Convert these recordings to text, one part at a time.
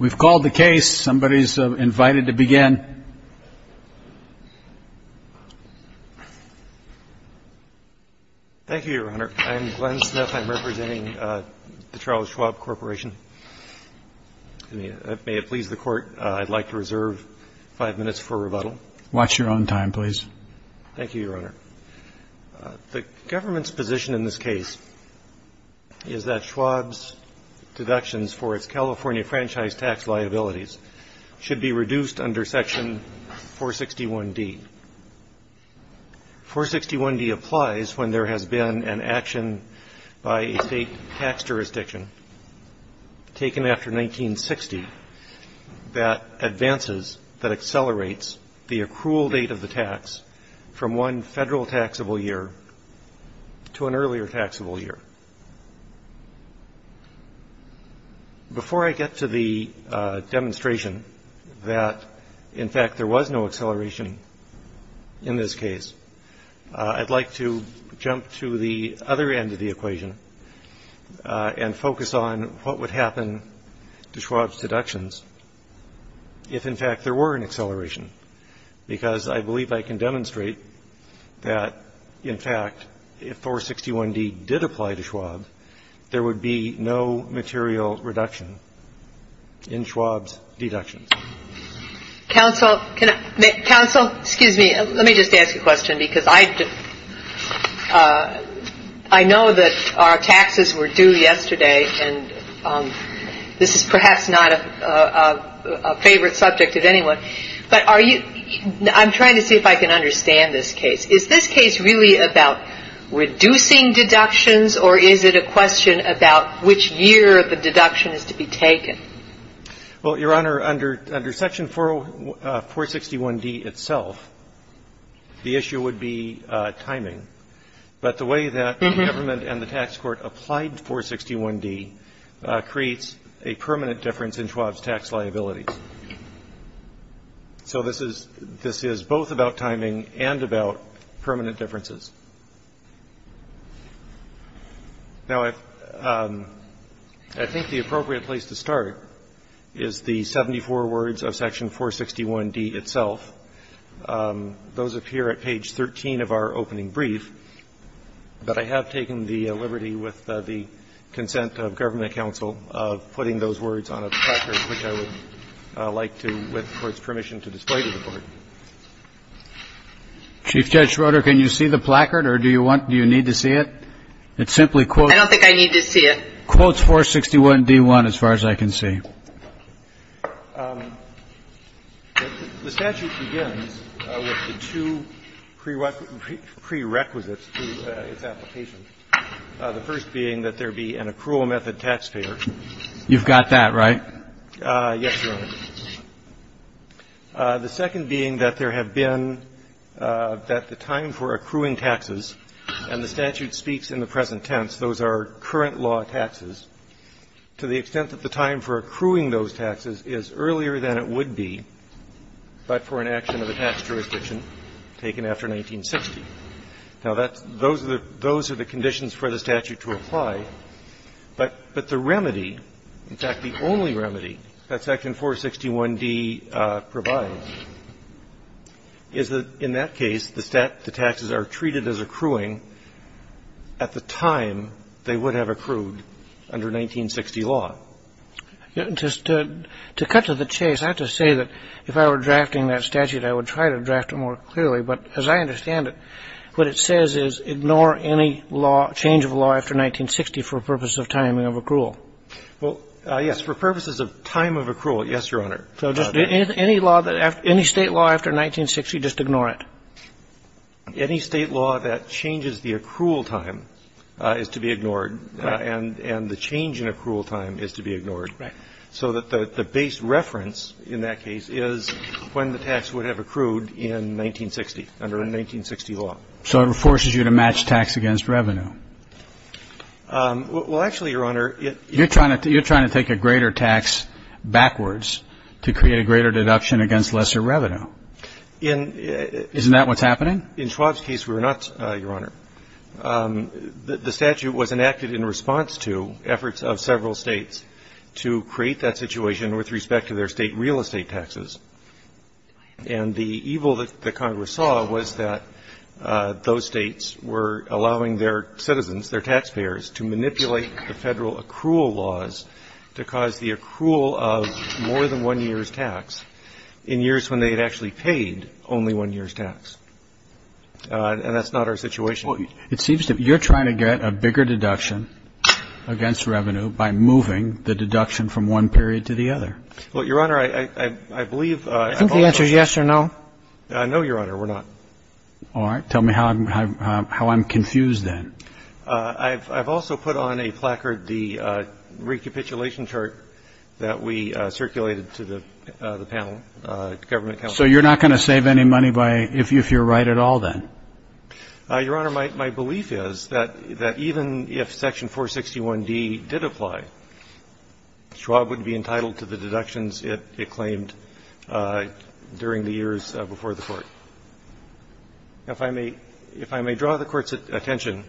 We've called the case. Somebody's invited to begin. Thank you, Your Honor. I'm Glenn Smith. I'm representing the Charles Schwab Corporation. May it please the Court, I'd like to reserve five minutes for rebuttal. Watch your own time, please. Thank you, Your Honor. The government's position in this case is that Schwab's deductions for its California franchise tax liabilities should be reduced under Section 461D. 461D applies when there has been an action by a state tax jurisdiction taken after 1960 that advances, that accelerates the accrual date of the tax from one federal taxable year to an earlier taxable year. Before I get to the demonstration that, in fact, there was no acceleration in this case, I'd like to jump to the other end of the equation and focus on what would happen to Schwab's deductions if, in fact, there were an acceleration. Because I believe I can demonstrate that, in fact, if 461D did apply to Schwab, there would be no material reduction in Schwab's deductions. Counsel, excuse me, let me just ask a question because I know that our taxes were due yesterday and this is perhaps not a favorite subject of anyone. But I'm trying to see if I can understand this case. Is this case really about reducing deductions or is it a question about which year the deduction is to be taken? Well, Your Honor, under Section 461D itself, the issue would be timing. But the way that the government and the tax court applied 461D creates a permanent difference in Schwab's tax liabilities. So this is both about timing and about permanent differences. Now, I think the appropriate place to start is the 74 words of Section 461D itself. Those appear at page 13 of our opening brief. But I have taken the liberty with the consent of government counsel of putting those words on a placard, which I would like to, with the Court's permission, to display to the Court. Chief Judge Schroeder, can you see the placard or do you want, do you need to see it? It simply quotes. I don't think I need to see it. Quotes 461D1 as far as I can see. The statute begins with the two prerequisites to its application. The first being that there be an accrual method taxpayer. You've got that right? Yes, Your Honor. The second being that there have been, that the time for accruing taxes, and the statute speaks in the present tense, those are current law taxes, to the extent that the time for accruing those taxes is earlier than it would be but for an action of a tax jurisdiction taken after 1960. Now, that's, those are the conditions for the statute to apply. But the remedy, in fact, the only remedy that section 461D provides is that in that case, the taxes are treated as accruing at the time they would have accrued under 1960 law. Just to cut to the chase, I have to say that if I were drafting that statute, I would try to draft it more clearly. But as I understand it, what it says is ignore any law, change of law after 1960 for purposes of timing of accrual. Well, yes, for purposes of time of accrual, yes, Your Honor. So just any law that, any State law after 1960, just ignore it? Any State law that changes the accrual time is to be ignored. Right. And the change in accrual time is to be ignored. Right. So that the base reference in that case is when the tax would have accrued in 1960, under 1960 law. So it forces you to match tax against revenue? Well, actually, Your Honor, it You're trying to take a greater tax backwards to create a greater deduction against lesser revenue. Isn't that what's happening? In Schwab's case, we're not, Your Honor. The statute was enacted in response to efforts of several States to create that situation with respect to their State real estate taxes. And the evil that Congress saw was that those States were allowing their citizens, their taxpayers, to manipulate the Federal accrual laws to cause the accrual of more than one year's tax in years when they had actually paid only one year's tax. And that's not our situation. Well, it seems to me you're trying to get a bigger deduction against revenue by moving the deduction from one period to the other. Well, Your Honor, I believe the answer is yes or no. I know, Your Honor, we're not. All right. Tell me how I'm confused then. I've also put on a placard the recapitulation chart that we circulated to the panel, the government panel. So you're not going to save any money if you're right at all then? Your Honor, my belief is that even if Section 461D did apply, Schwab would be entitled to the deductions it claimed during the years before the Court. If I may draw the Court's attention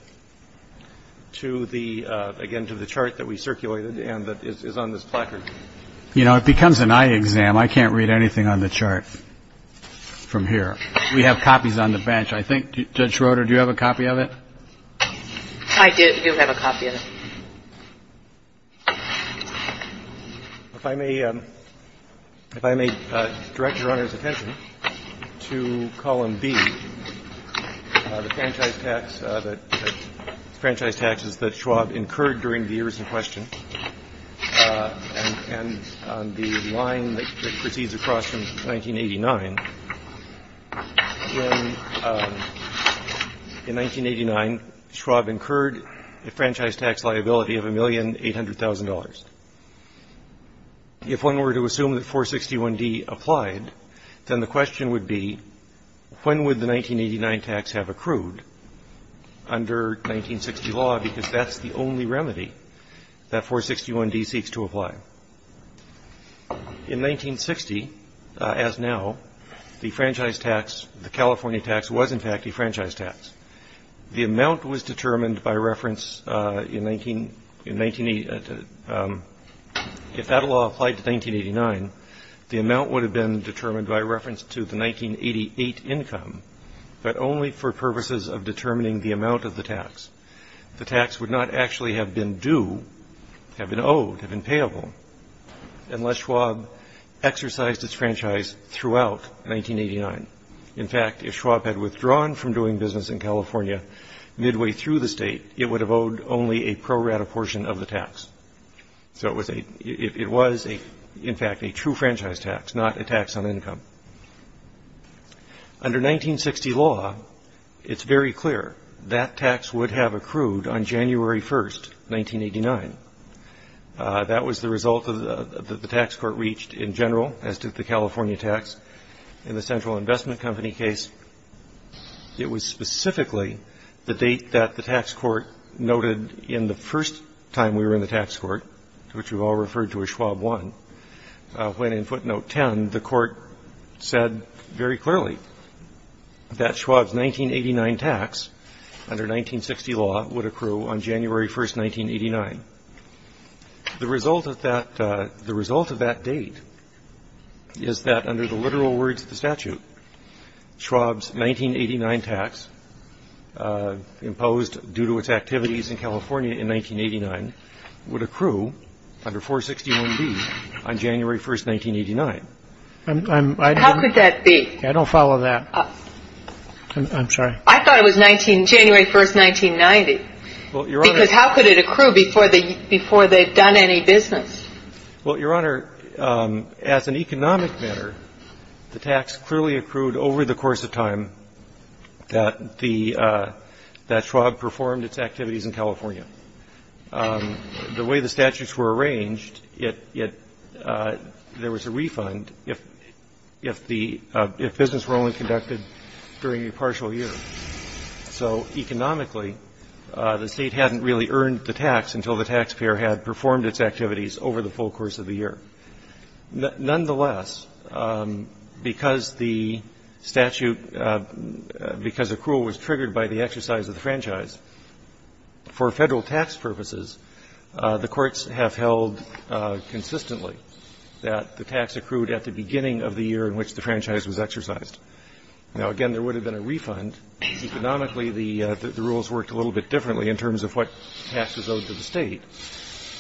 to the, again, to the chart that we circulated and that is on this placard. You know, it becomes an eye exam. I can't read anything on the chart from here. We have copies on the bench. I think, Judge Schroeder, do you have a copy of it? I do. I do have a copy of it. If I may direct Your Honor's attention to column B, the franchise tax, the franchise proceeds across from 1989. In 1989, Schwab incurred a franchise tax liability of $1,800,000. If one were to assume that 461D applied, then the question would be when would the 1989 tax have accrued under 1960 law because that's the only remedy that 461D seeks to apply. In 1960, as now, the franchise tax, the California tax, was in fact a franchise tax. The amount was determined by reference in 1980. If that law applied to 1989, the amount would have been determined by reference to the 1988 income, but only for purposes of determining the amount of the tax. The tax would not actually have been due, have been owed, have been payable, unless Schwab exercised its franchise throughout 1989. In fact, if Schwab had withdrawn from doing business in California midway through the state, it would have owed only a pro rata portion of the tax. So it was, in fact, a true franchise tax, not a tax on income. Under 1960 law, it's very clear that tax would have accrued on January 1st, 1989. That was the result that the tax court reached in general, as did the California tax. In the Central Investment Company case, it was specifically the date that the tax court noted in the first time we were in the tax court, which we've all referred to as Schwab 1, when in footnote 10, the court said very clearly that Schwab's 1989 tax, under 1960 law, would accrue on January 1st, 1989. The result of that date is that under the literal words of the statute, Schwab's 1989 tax, imposed due to its activities in California in 1989, would accrue under 461B on January 1st, 1989. How could that be? I don't follow that. I'm sorry. I thought it was January 1st, 1990. Because how could it accrue before they've done any business? Well, Your Honor, as an economic matter, the tax clearly accrued over the course of time that Schwab performed its activities in California. The way the statutes were arranged, it – there was a refund if the – if business were only conducted during a partial year. So economically, the State hadn't really earned the tax until the taxpayer had performed its activities over the full course of the year. Nonetheless, because the statute – because accrual was triggered by the exercise of the franchise, for Federal tax purposes, the courts have held consistently that the tax accrued at the beginning of the year in which the franchise was exercised. Now, again, there would have been a refund. Economically, the rules worked a little bit differently in terms of what tax was owed to the State.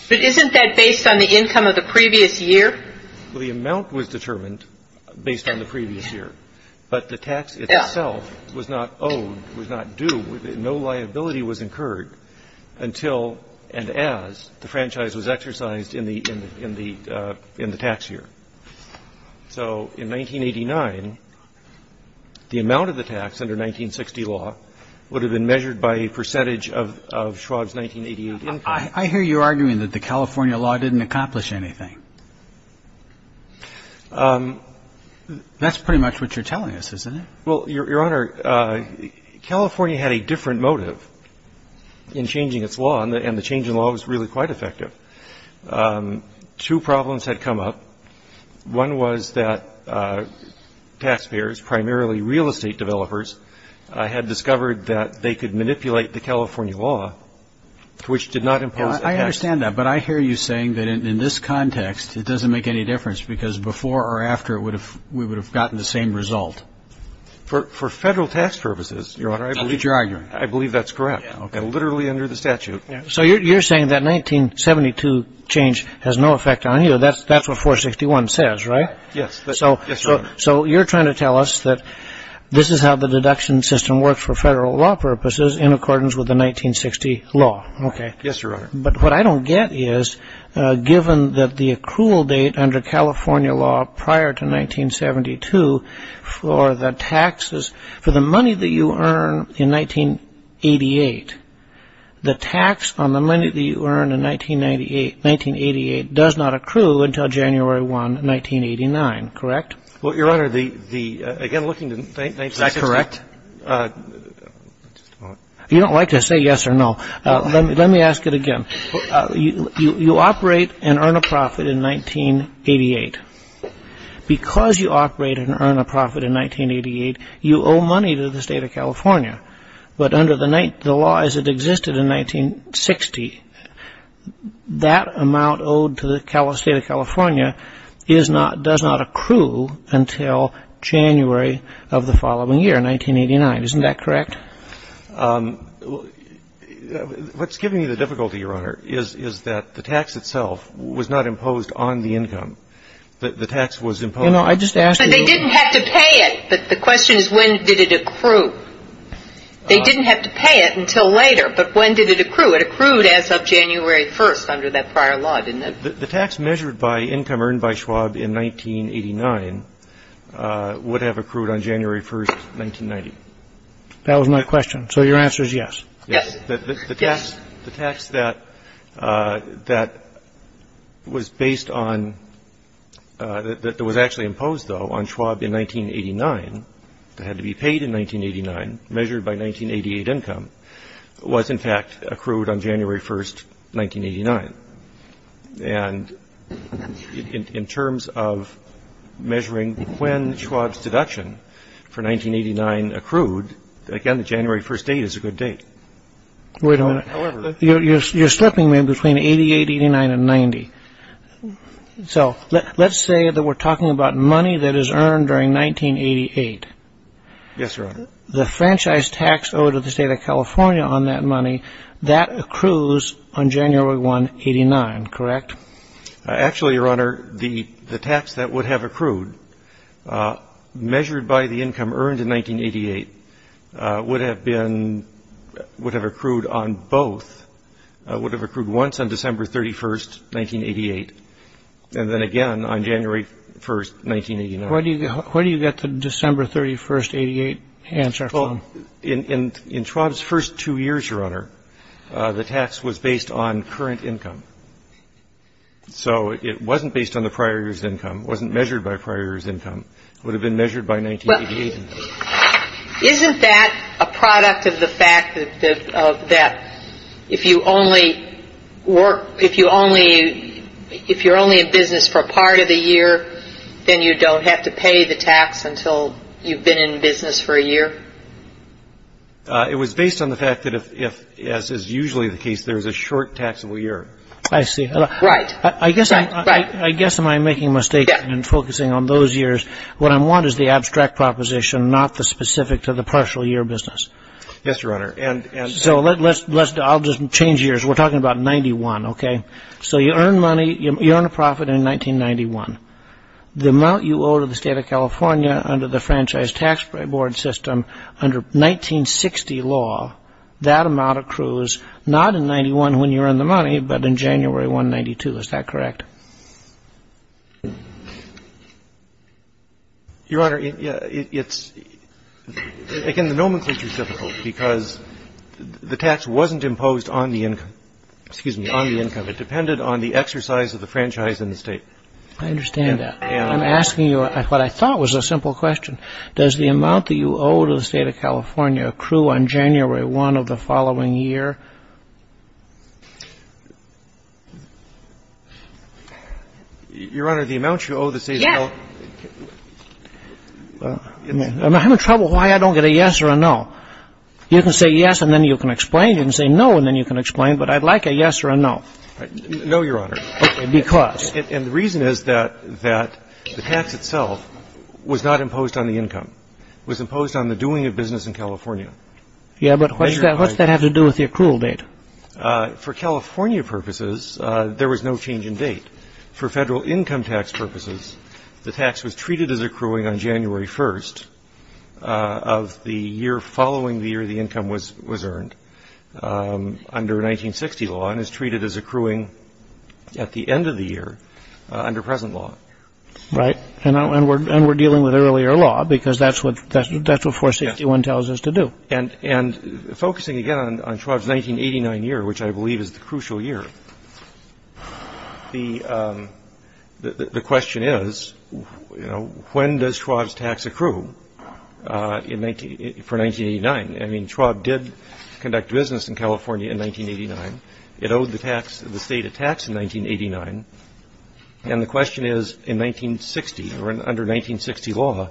But isn't that based on the income of the previous year? Well, the amount was determined based on the previous year. But the tax itself was not owed, was not due. No liability was incurred until and as the franchise was exercised in the tax year. So in 1989, the amount of the tax under 1960 law would have been measured by a percentage of Schwab's 1988 income. I hear you arguing that the California law didn't accomplish anything. That's pretty much what you're telling us, isn't it? Well, Your Honor, California had a different motive in changing its law, and the change in law was really quite effective. Two problems had come up. One was that taxpayers, primarily real estate developers, had discovered that they could I understand that, but I hear you saying that in this context it doesn't make any difference because before or after we would have gotten the same result. For federal tax purposes, Your Honor, I believe that's correct, literally under the statute. So you're saying that 1972 change has no effect on you. That's what 461 says, right? Yes, Your Honor. So you're trying to tell us that this is how the deduction system works for federal law purposes in accordance with the 1960 law. Okay. Yes, Your Honor. But what I don't get is, given that the accrual date under California law prior to 1972 for the taxes, for the money that you earn in 1988, the tax on the money that you earn in 1988 does not accrue until January 1, 1989, correct? Well, Your Honor, the, again, looking at the 1986 law... Is that correct? You don't like to say yes or no. Let me ask it again. You operate and earn a profit in 1988. Because you operate and earn a profit in 1988, you owe money to the State of California. But under the law as it existed in 1960, that amount owed to the State of California does not accrue until January of the following year, 1989. Isn't that correct? What's giving you the difficulty, Your Honor, is that the tax itself was not imposed on the income. The tax was imposed... You know, I just asked you... But they didn't have to pay it. The question is, when did it accrue? They didn't have to pay it until later. But when did it accrue? It accrued as of January 1 under that prior law, didn't it? The tax measured by income earned by Schwab in 1989 would have accrued on January 1, 1990. That was my question. So your answer is yes. Yes. Yes. The tax that was based on, that was actually imposed, though, on Schwab in 1989, that had to be paid in 1989, measured by 1988 income, was, in fact, accrued on January 1, 1989. And in terms of measuring when Schwab's deduction for 1989 accrued, again, the January 1 date is a good date. Wait a minute. However... You're slipping me between 88, 89, and 90. So let's say that we're talking about money that is earned during 1988. Yes, Your Honor. The franchise tax owed to the State of California on that money, that accrues on January 1, 1989, correct? Actually, Your Honor, the tax that would have accrued, measured by the income earned in 1988, would have accrued on both, would have accrued once on December 31, 1988, and then again on January 1, 1989. Where do you get the December 31, 1988 answer from? Well, in Schwab's first two years, Your Honor, the tax was based on current income. So it wasn't based on the prior year's income. It wasn't measured by prior year's income. It would have been measured by 1988. Isn't that a product of the fact that if you only work, if you only, if you're only in business for part of the year, then you don't have to pay the tax until you've been in business for a year? It was based on the fact that if, as is usually the case, there's a short taxable year. I see. Right. I guess I'm making a mistake in focusing on those years. What I want is the abstract proposition, not the specific to the partial year business. Yes, Your Honor. So let's, I'll just change years. We're talking about 91, okay? So you earn money, you earn a profit in 1991. The amount you owe to the State of California under the Franchise Tax Board System under 1960 law, that amount accrues not in 91 when you earn the money, but in January 192. Is that correct? Your Honor, it's, again, the nomenclature is difficult because the tax wasn't imposed on the income, it depended on the exercise of the franchise in the state. I understand that. I'm asking you what I thought was a simple question. Does the amount that you owe to the State of California accrue on January 1 of the following year? Your Honor, the amount you owe to the State of California. Yes. I'm having trouble why I don't get a yes or a no. You can say yes and then you can explain. You can say no and then you can explain, but I'd like a yes or a no. No, Your Honor. Okay, because? And the reason is that the tax itself was not imposed on the income. It was imposed on the doing of business in California. Yeah, but what does that have to do with the accrual date? For California purposes, there was no change in date. For federal income tax purposes, the tax was treated as accruing on January 1 of the year following the year the income was earned. Under 1960 law, it was treated as accruing at the end of the year under present law. Right. And we're dealing with earlier law because that's what 461 tells us to do. And focusing again on Schwab's 1989 year, which I believe is the crucial year, the question is, you know, when does Schwab's tax accrue for 1989? I mean, Schwab did conduct business in California in 1989. It owed the state a tax in 1989. And the question is, in 1960 or under 1960 law,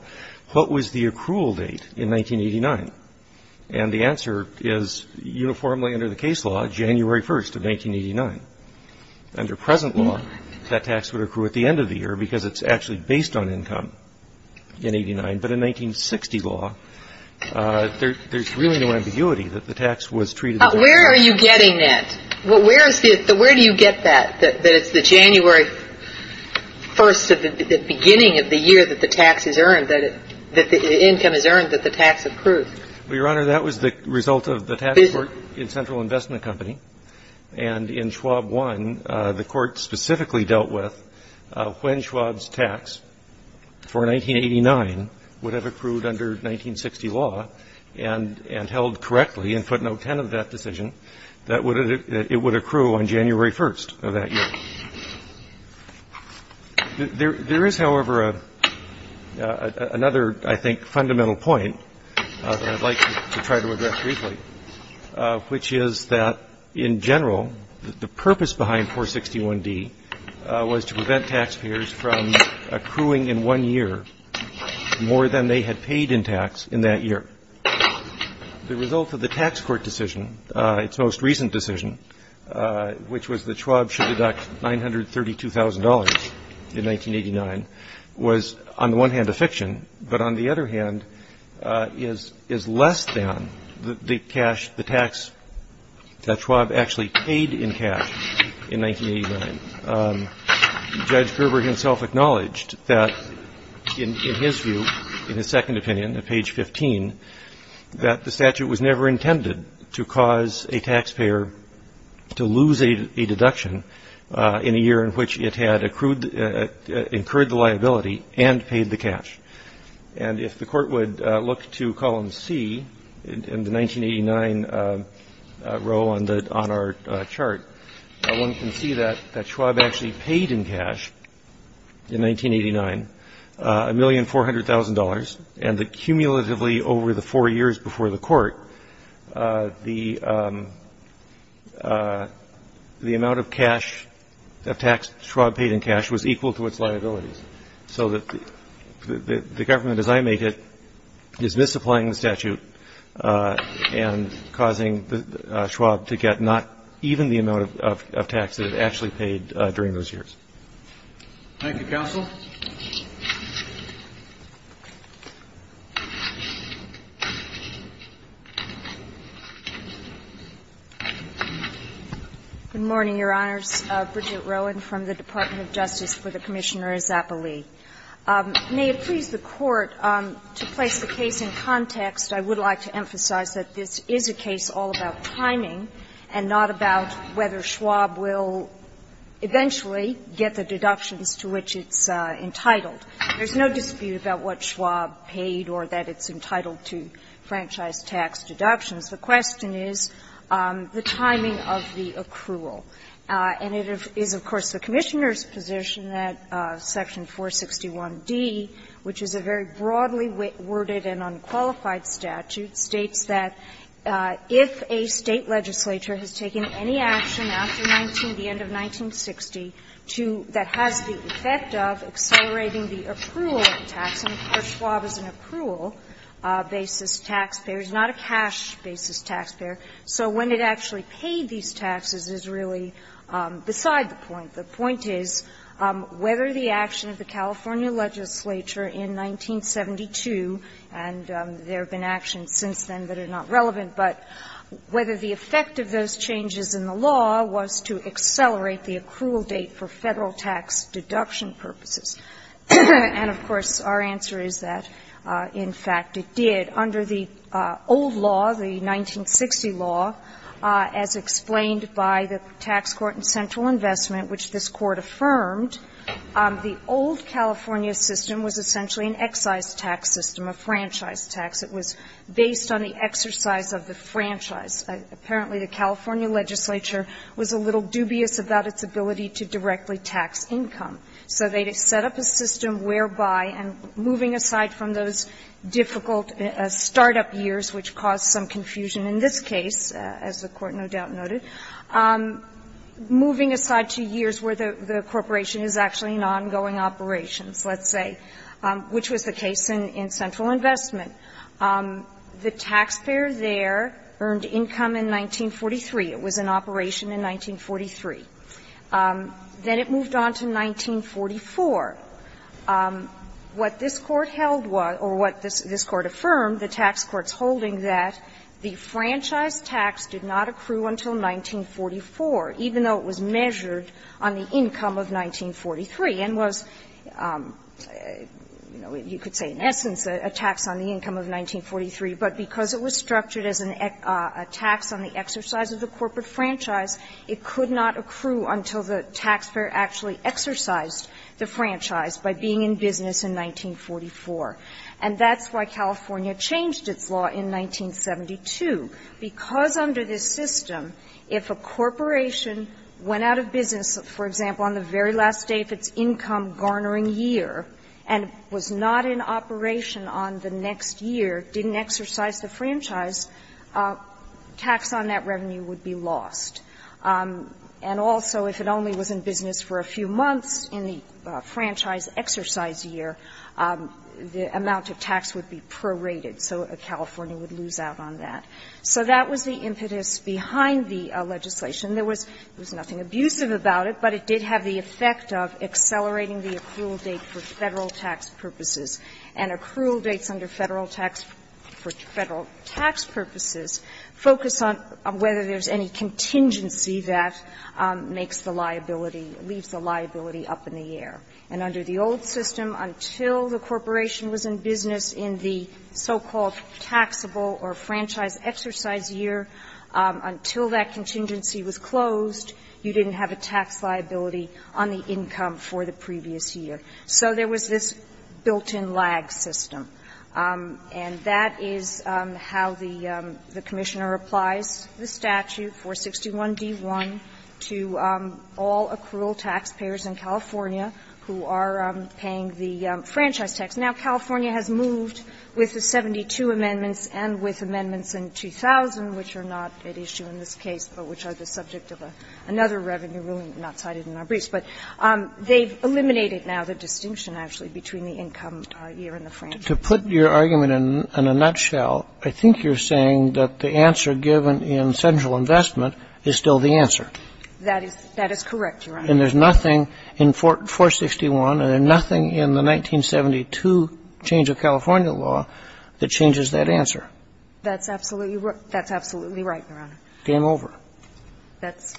what was the accrual date in 1989? And the answer is uniformly under the case law, January 1 of 1989. Under present law, that tax would accrue at the end of the year because it's actually based on income in 89. But in 1960 law, there's really no ambiguity that the tax was treated as accruing. Where are you getting that? Where do you get that, that it's the January 1st of the beginning of the year that the tax is earned, that the income is earned, that the tax accrued? Well, Your Honor, that was the result of the tax court in Central Investment Company. And in Schwab 1, the court specifically dealt with when Schwab's tax for 1989 would have accrued under 1960 law and held correctly, and put note 10 of that decision, that it would accrue on January 1st of that year. There is, however, another, I think, fundamental point that I'd like to try to address briefly, which is that in general, the purpose behind 461D was to prevent taxpayers from accruing in one year more than they had paid in tax in that year. The result of the tax court decision, its most recent decision, which was that Schwab should deduct $932,000 in 1989, was on the one hand a fiction, but on the other hand is less than the tax that Schwab actually paid in cash in 1989. Judge Gerber himself acknowledged that in his view, in his second opinion at page 15, that the statute was never intended to cause a taxpayer to lose a deduction in a year in which it had accrued, incurred the liability and paid the cash. And if the court would look to column C in the 1989 row on our chart, one can see that Schwab actually paid in cash in 1989 $1,400,000. And the cumulatively over the four years before the court, the amount of cash of tax Schwab paid in cash was equal to its liabilities. So the government, as I make it, is misapplying the statute and causing Schwab to get not even the amount of tax that it actually paid during those years. Thank you, counsel. Good morning, Your Honors. My name is Bridget Rowan from the Department of Justice for the Commissioner of Zappoli. May it please the Court to place the case in context. I would like to emphasize that this is a case all about timing and not about whether Schwab will eventually get the deductions to which it's entitled. There's no dispute about what Schwab paid or that it's entitled to franchise tax deductions. The question is the timing of the accrual. And it is, of course, the Commissioner's position that Section 461d, which is a very broadly worded and unqualified statute, states that if a State legislature has taken any action after 19 the end of 1960 to that has the effect of accelerating the accrual tax, and, of course, Schwab is an accrual basis taxpayer. He's not a cash basis taxpayer. So when it actually paid these taxes is really beside the point. The point is whether the action of the California legislature in 1972, and there have been actions since then that are not relevant, but whether the effect of those And, of course, our answer is that, in fact, it did. Under the old law, the 1960 law, as explained by the Tax Court and Central Investment, which this Court affirmed, the old California system was essentially an excise tax system, a franchise tax. It was based on the exercise of the franchise. Apparently, the California legislature was a little dubious about its ability to directly tax income. So they had set up a system whereby, and moving aside from those difficult start-up years, which caused some confusion in this case, as the Court no doubt noted, moving aside to years where the corporation is actually in ongoing operations, let's say, which was the case in Central Investment. The taxpayer there earned income in 1943. It was in operation in 1943. Then it moved on to 1944. What this Court held was, or what this Court affirmed, the tax court's holding that the franchise tax did not accrue until 1944, even though it was measured on the income of 1943, and was, you know, you could say, in essence, a tax on the income of 1943. But because it was structured as a tax on the exercise of the corporate franchise, it could not accrue until the taxpayer actually exercised the franchise by being in business in 1944. And that's why California changed its law in 1972, because under this system, if a corporation went out of business, for example, on the very last day of its income-garnering year, and was not in operation on the next year, didn't exercise the franchise, tax on that revenue would be lost. And also, if it only was in business for a few months in the franchise exercise year, the amount of tax would be prorated, so California would lose out on that. So that was the impetus behind the legislation. There was nothing abusive about it, but it did have the effect of accelerating the accrual date for Federal tax purposes, and accrual dates under Federal tax for the agency that makes the liability, leaves the liability up in the air. And under the old system, until the corporation was in business in the so-called taxable or franchise exercise year, until that contingency was closed, you didn't have a tax liability on the income for the previous year. So there was this built-in lag system. And that is how the Commissioner applies the statute, 461d1, to all accrual taxpayers in California who are paying the franchise tax. Now, California has moved with the 72 amendments and with amendments in 2000, which are not at issue in this case, but which are the subject of another revenue ruling not cited in our briefs. But they've eliminated now the distinction, actually, between the income year and the franchise. And there's nothing in 461, and there's nothing in the 1972 change of California law that changes that answer. That's absolutely right, Your Honor. Game over. That's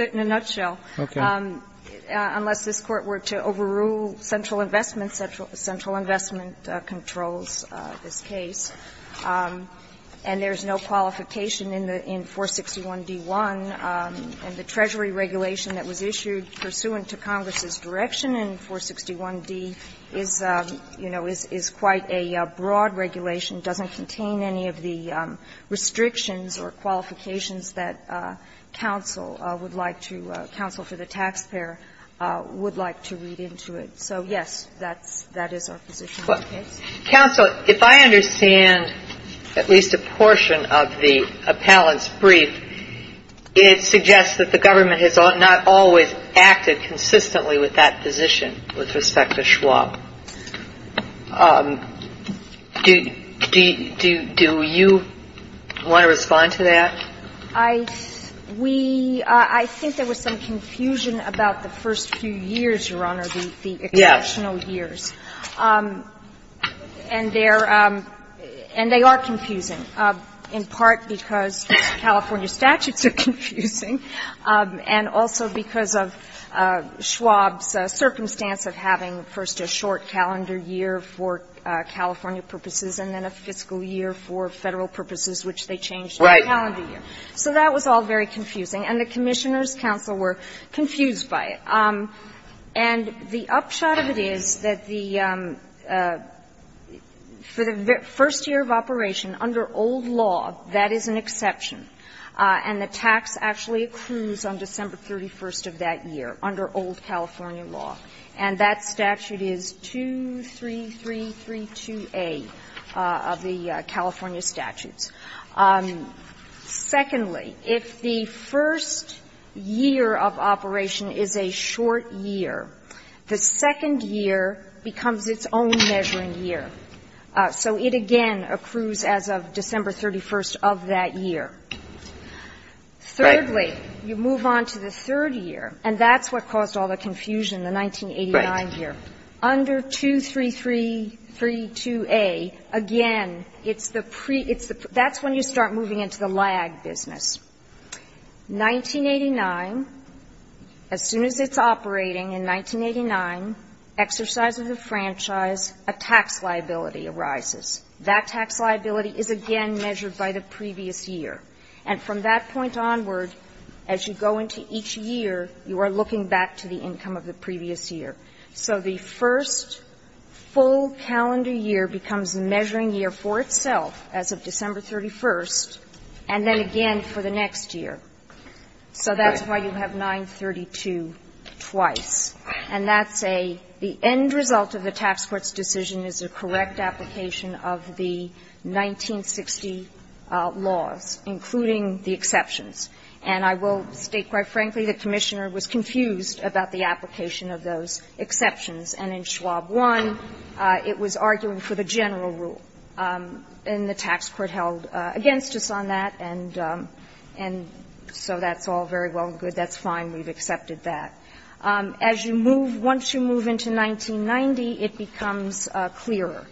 it in a nutshell. Okay. It would not be an issue. It would not be an issue. I think that's the way the investment controls this case. And there's no qualification in the 461d1. And the Treasury regulation that was issued pursuant to Congress's direction in 461d is, you know, is quite a broad regulation. It doesn't contain any of the restrictions or qualifications that counsel would like to counsel for the taxpayer would like to read into it. So, yes, that's that is our position on the case. Counsel, if I understand at least a portion of the appellant's brief, it suggests that the government has not always acted consistently with that position with respect to Schwab. Do you want to respond to that? I think there was some confusion about the first few years, Your Honor, the exceptional years. And they are confusing, in part because California statutes are confusing and also because of Schwab's circumstance of having first a short calendar year for California purposes and then a fiscal year for Federal purposes, which they So that was all very confusing. And the Commissioners' counsel were confused by it. And the upshot of it is that the, for the first year of operation under old law, that is an exception. And the tax actually accrues on December 31st of that year under old California law, and that statute is 23332A of the California statutes. Secondly, if the first year of operation is a short year, the second year becomes its own measuring year. So it again accrues as of December 31st of that year. Thirdly, you move on to the third year, and that's what caused all the confusion, the 1989 year. Under 23332A, again, it's the pre – that's when you start moving into the lag business. 1989, as soon as it's operating in 1989, exercise of the franchise, a tax liability arises. That tax liability is again measured by the previous year. And from that point onward, as you go into each year, you are looking back to the income of the previous year. So the first full calendar year becomes a measuring year for itself as of December 31st, and then again for the next year. So that's why you have 932 twice. And that's a – the end result of the tax court's decision is a correct application of the 1960 laws, including the exceptions. And I will state, quite frankly, the Commissioner was confused about the application of those exceptions. And in Schwab 1, it was arguing for the general rule. And the tax court held against us on that, and so that's all very well and good. That's fine. We've accepted that. As you move – once you move into 1990, it becomes clearer.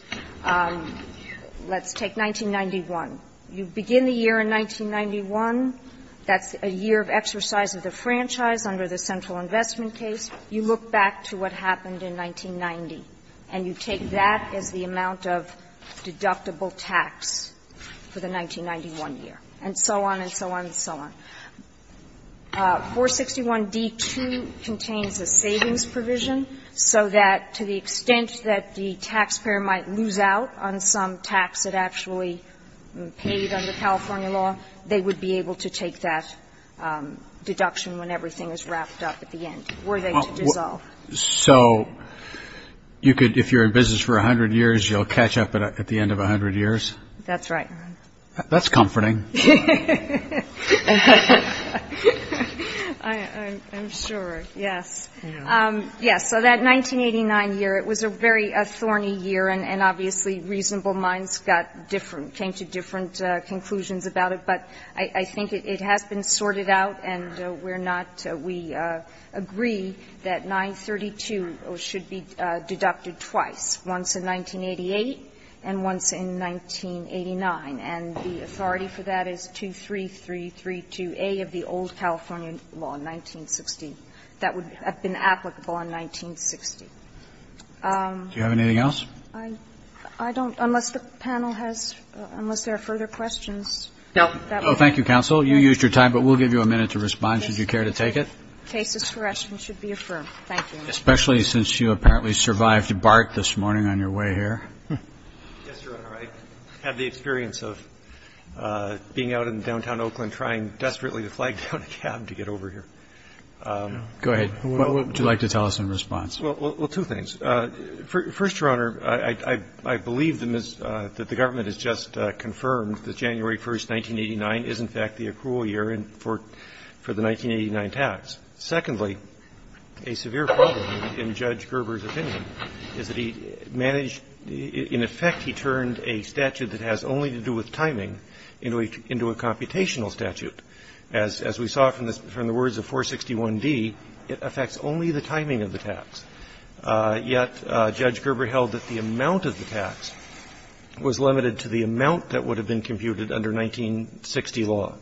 Let's take 1991. You begin the year in 1991. That's a year of exercise of the franchise under the central investment case. You look back to what happened in 1990, and you take that as the amount of deductible tax for the 1991 year, and so on and so on and so on. 461d2 contains a savings provision so that to the extent that the taxpayer might lose out on some tax that actually paid under California law, they would be able to take that deduction when everything is wrapped up at the end, were they to dissolve. So you could – if you're in business for 100 years, you'll catch up at the end of 100 years? That's right. That's comforting. I'm sure. Yes. Yes. So that 1989 year, it was a very thorny year, and obviously reasonable minds got different – came to different conclusions about it. But I think it has been sorted out, and we're not – we agree that 932 should be deducted twice, once in 1988 and once in 1989. And the authority for that is 23332a of the old California law, 1960, that would have been applicable in 1960. Do you have anything else? I don't. Unless the panel has – unless there are further questions. No. Thank you, counsel. You used your time, but we'll give you a minute to respond, should you care to take it. Cases for questions should be affirmed. Thank you. Especially since you apparently survived a bark this morning on your way here. Yes, Your Honor. I had the experience of being out in downtown Oakland trying desperately to flag down a cab to get over here. Go ahead. What would you like to tell us in response? Well, two things. First, Your Honor, I believe that the government has just confirmed that January 1st, 1989 is, in fact, the accrual year for the 1989 tax. Secondly, a severe problem in Judge Gerber's opinion is that he managed – in effect, he turned a statute that has only to do with timing into a computational statute. As we saw from the words of 461d, it affects only the timing of the tax. Yet Judge Gerber held that the amount of the tax was limited to the amount that would have been computed under 1960 law.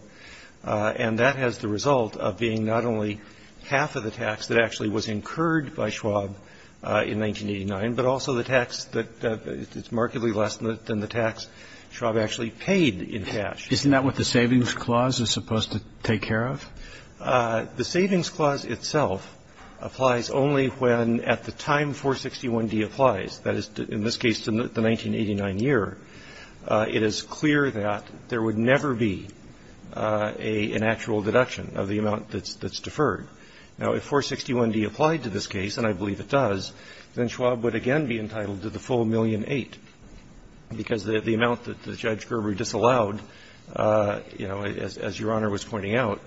And that has the result of being not only half of the tax that actually was incurred by Schwab in 1989, but also the tax that is markedly less than the tax Schwab actually paid in cash. Isn't that what the Savings Clause is supposed to take care of? The Savings Clause itself applies only when, at the time 461d applies, that is, in this case, the amount that's deferred. Now, if 461d applied to this case, and I believe it does, then Schwab would again be entitled to the full 1,000,008, because the amount that Judge Gerber disallowed, you know, as Your Honor was pointing out,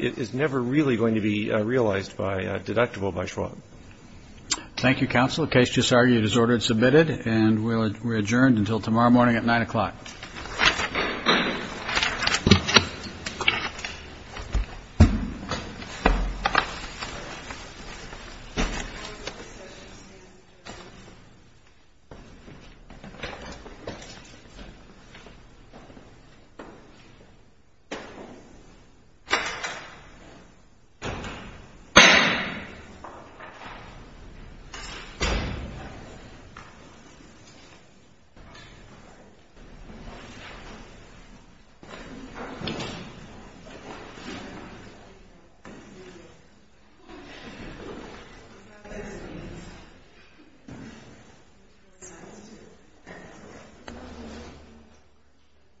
is never really going to be realized by – deductible by Schwab. Thank you, Counsel. The case just argued is ordered and submitted, and we're adjourned until tomorrow morning at 9 o'clock. Thank you.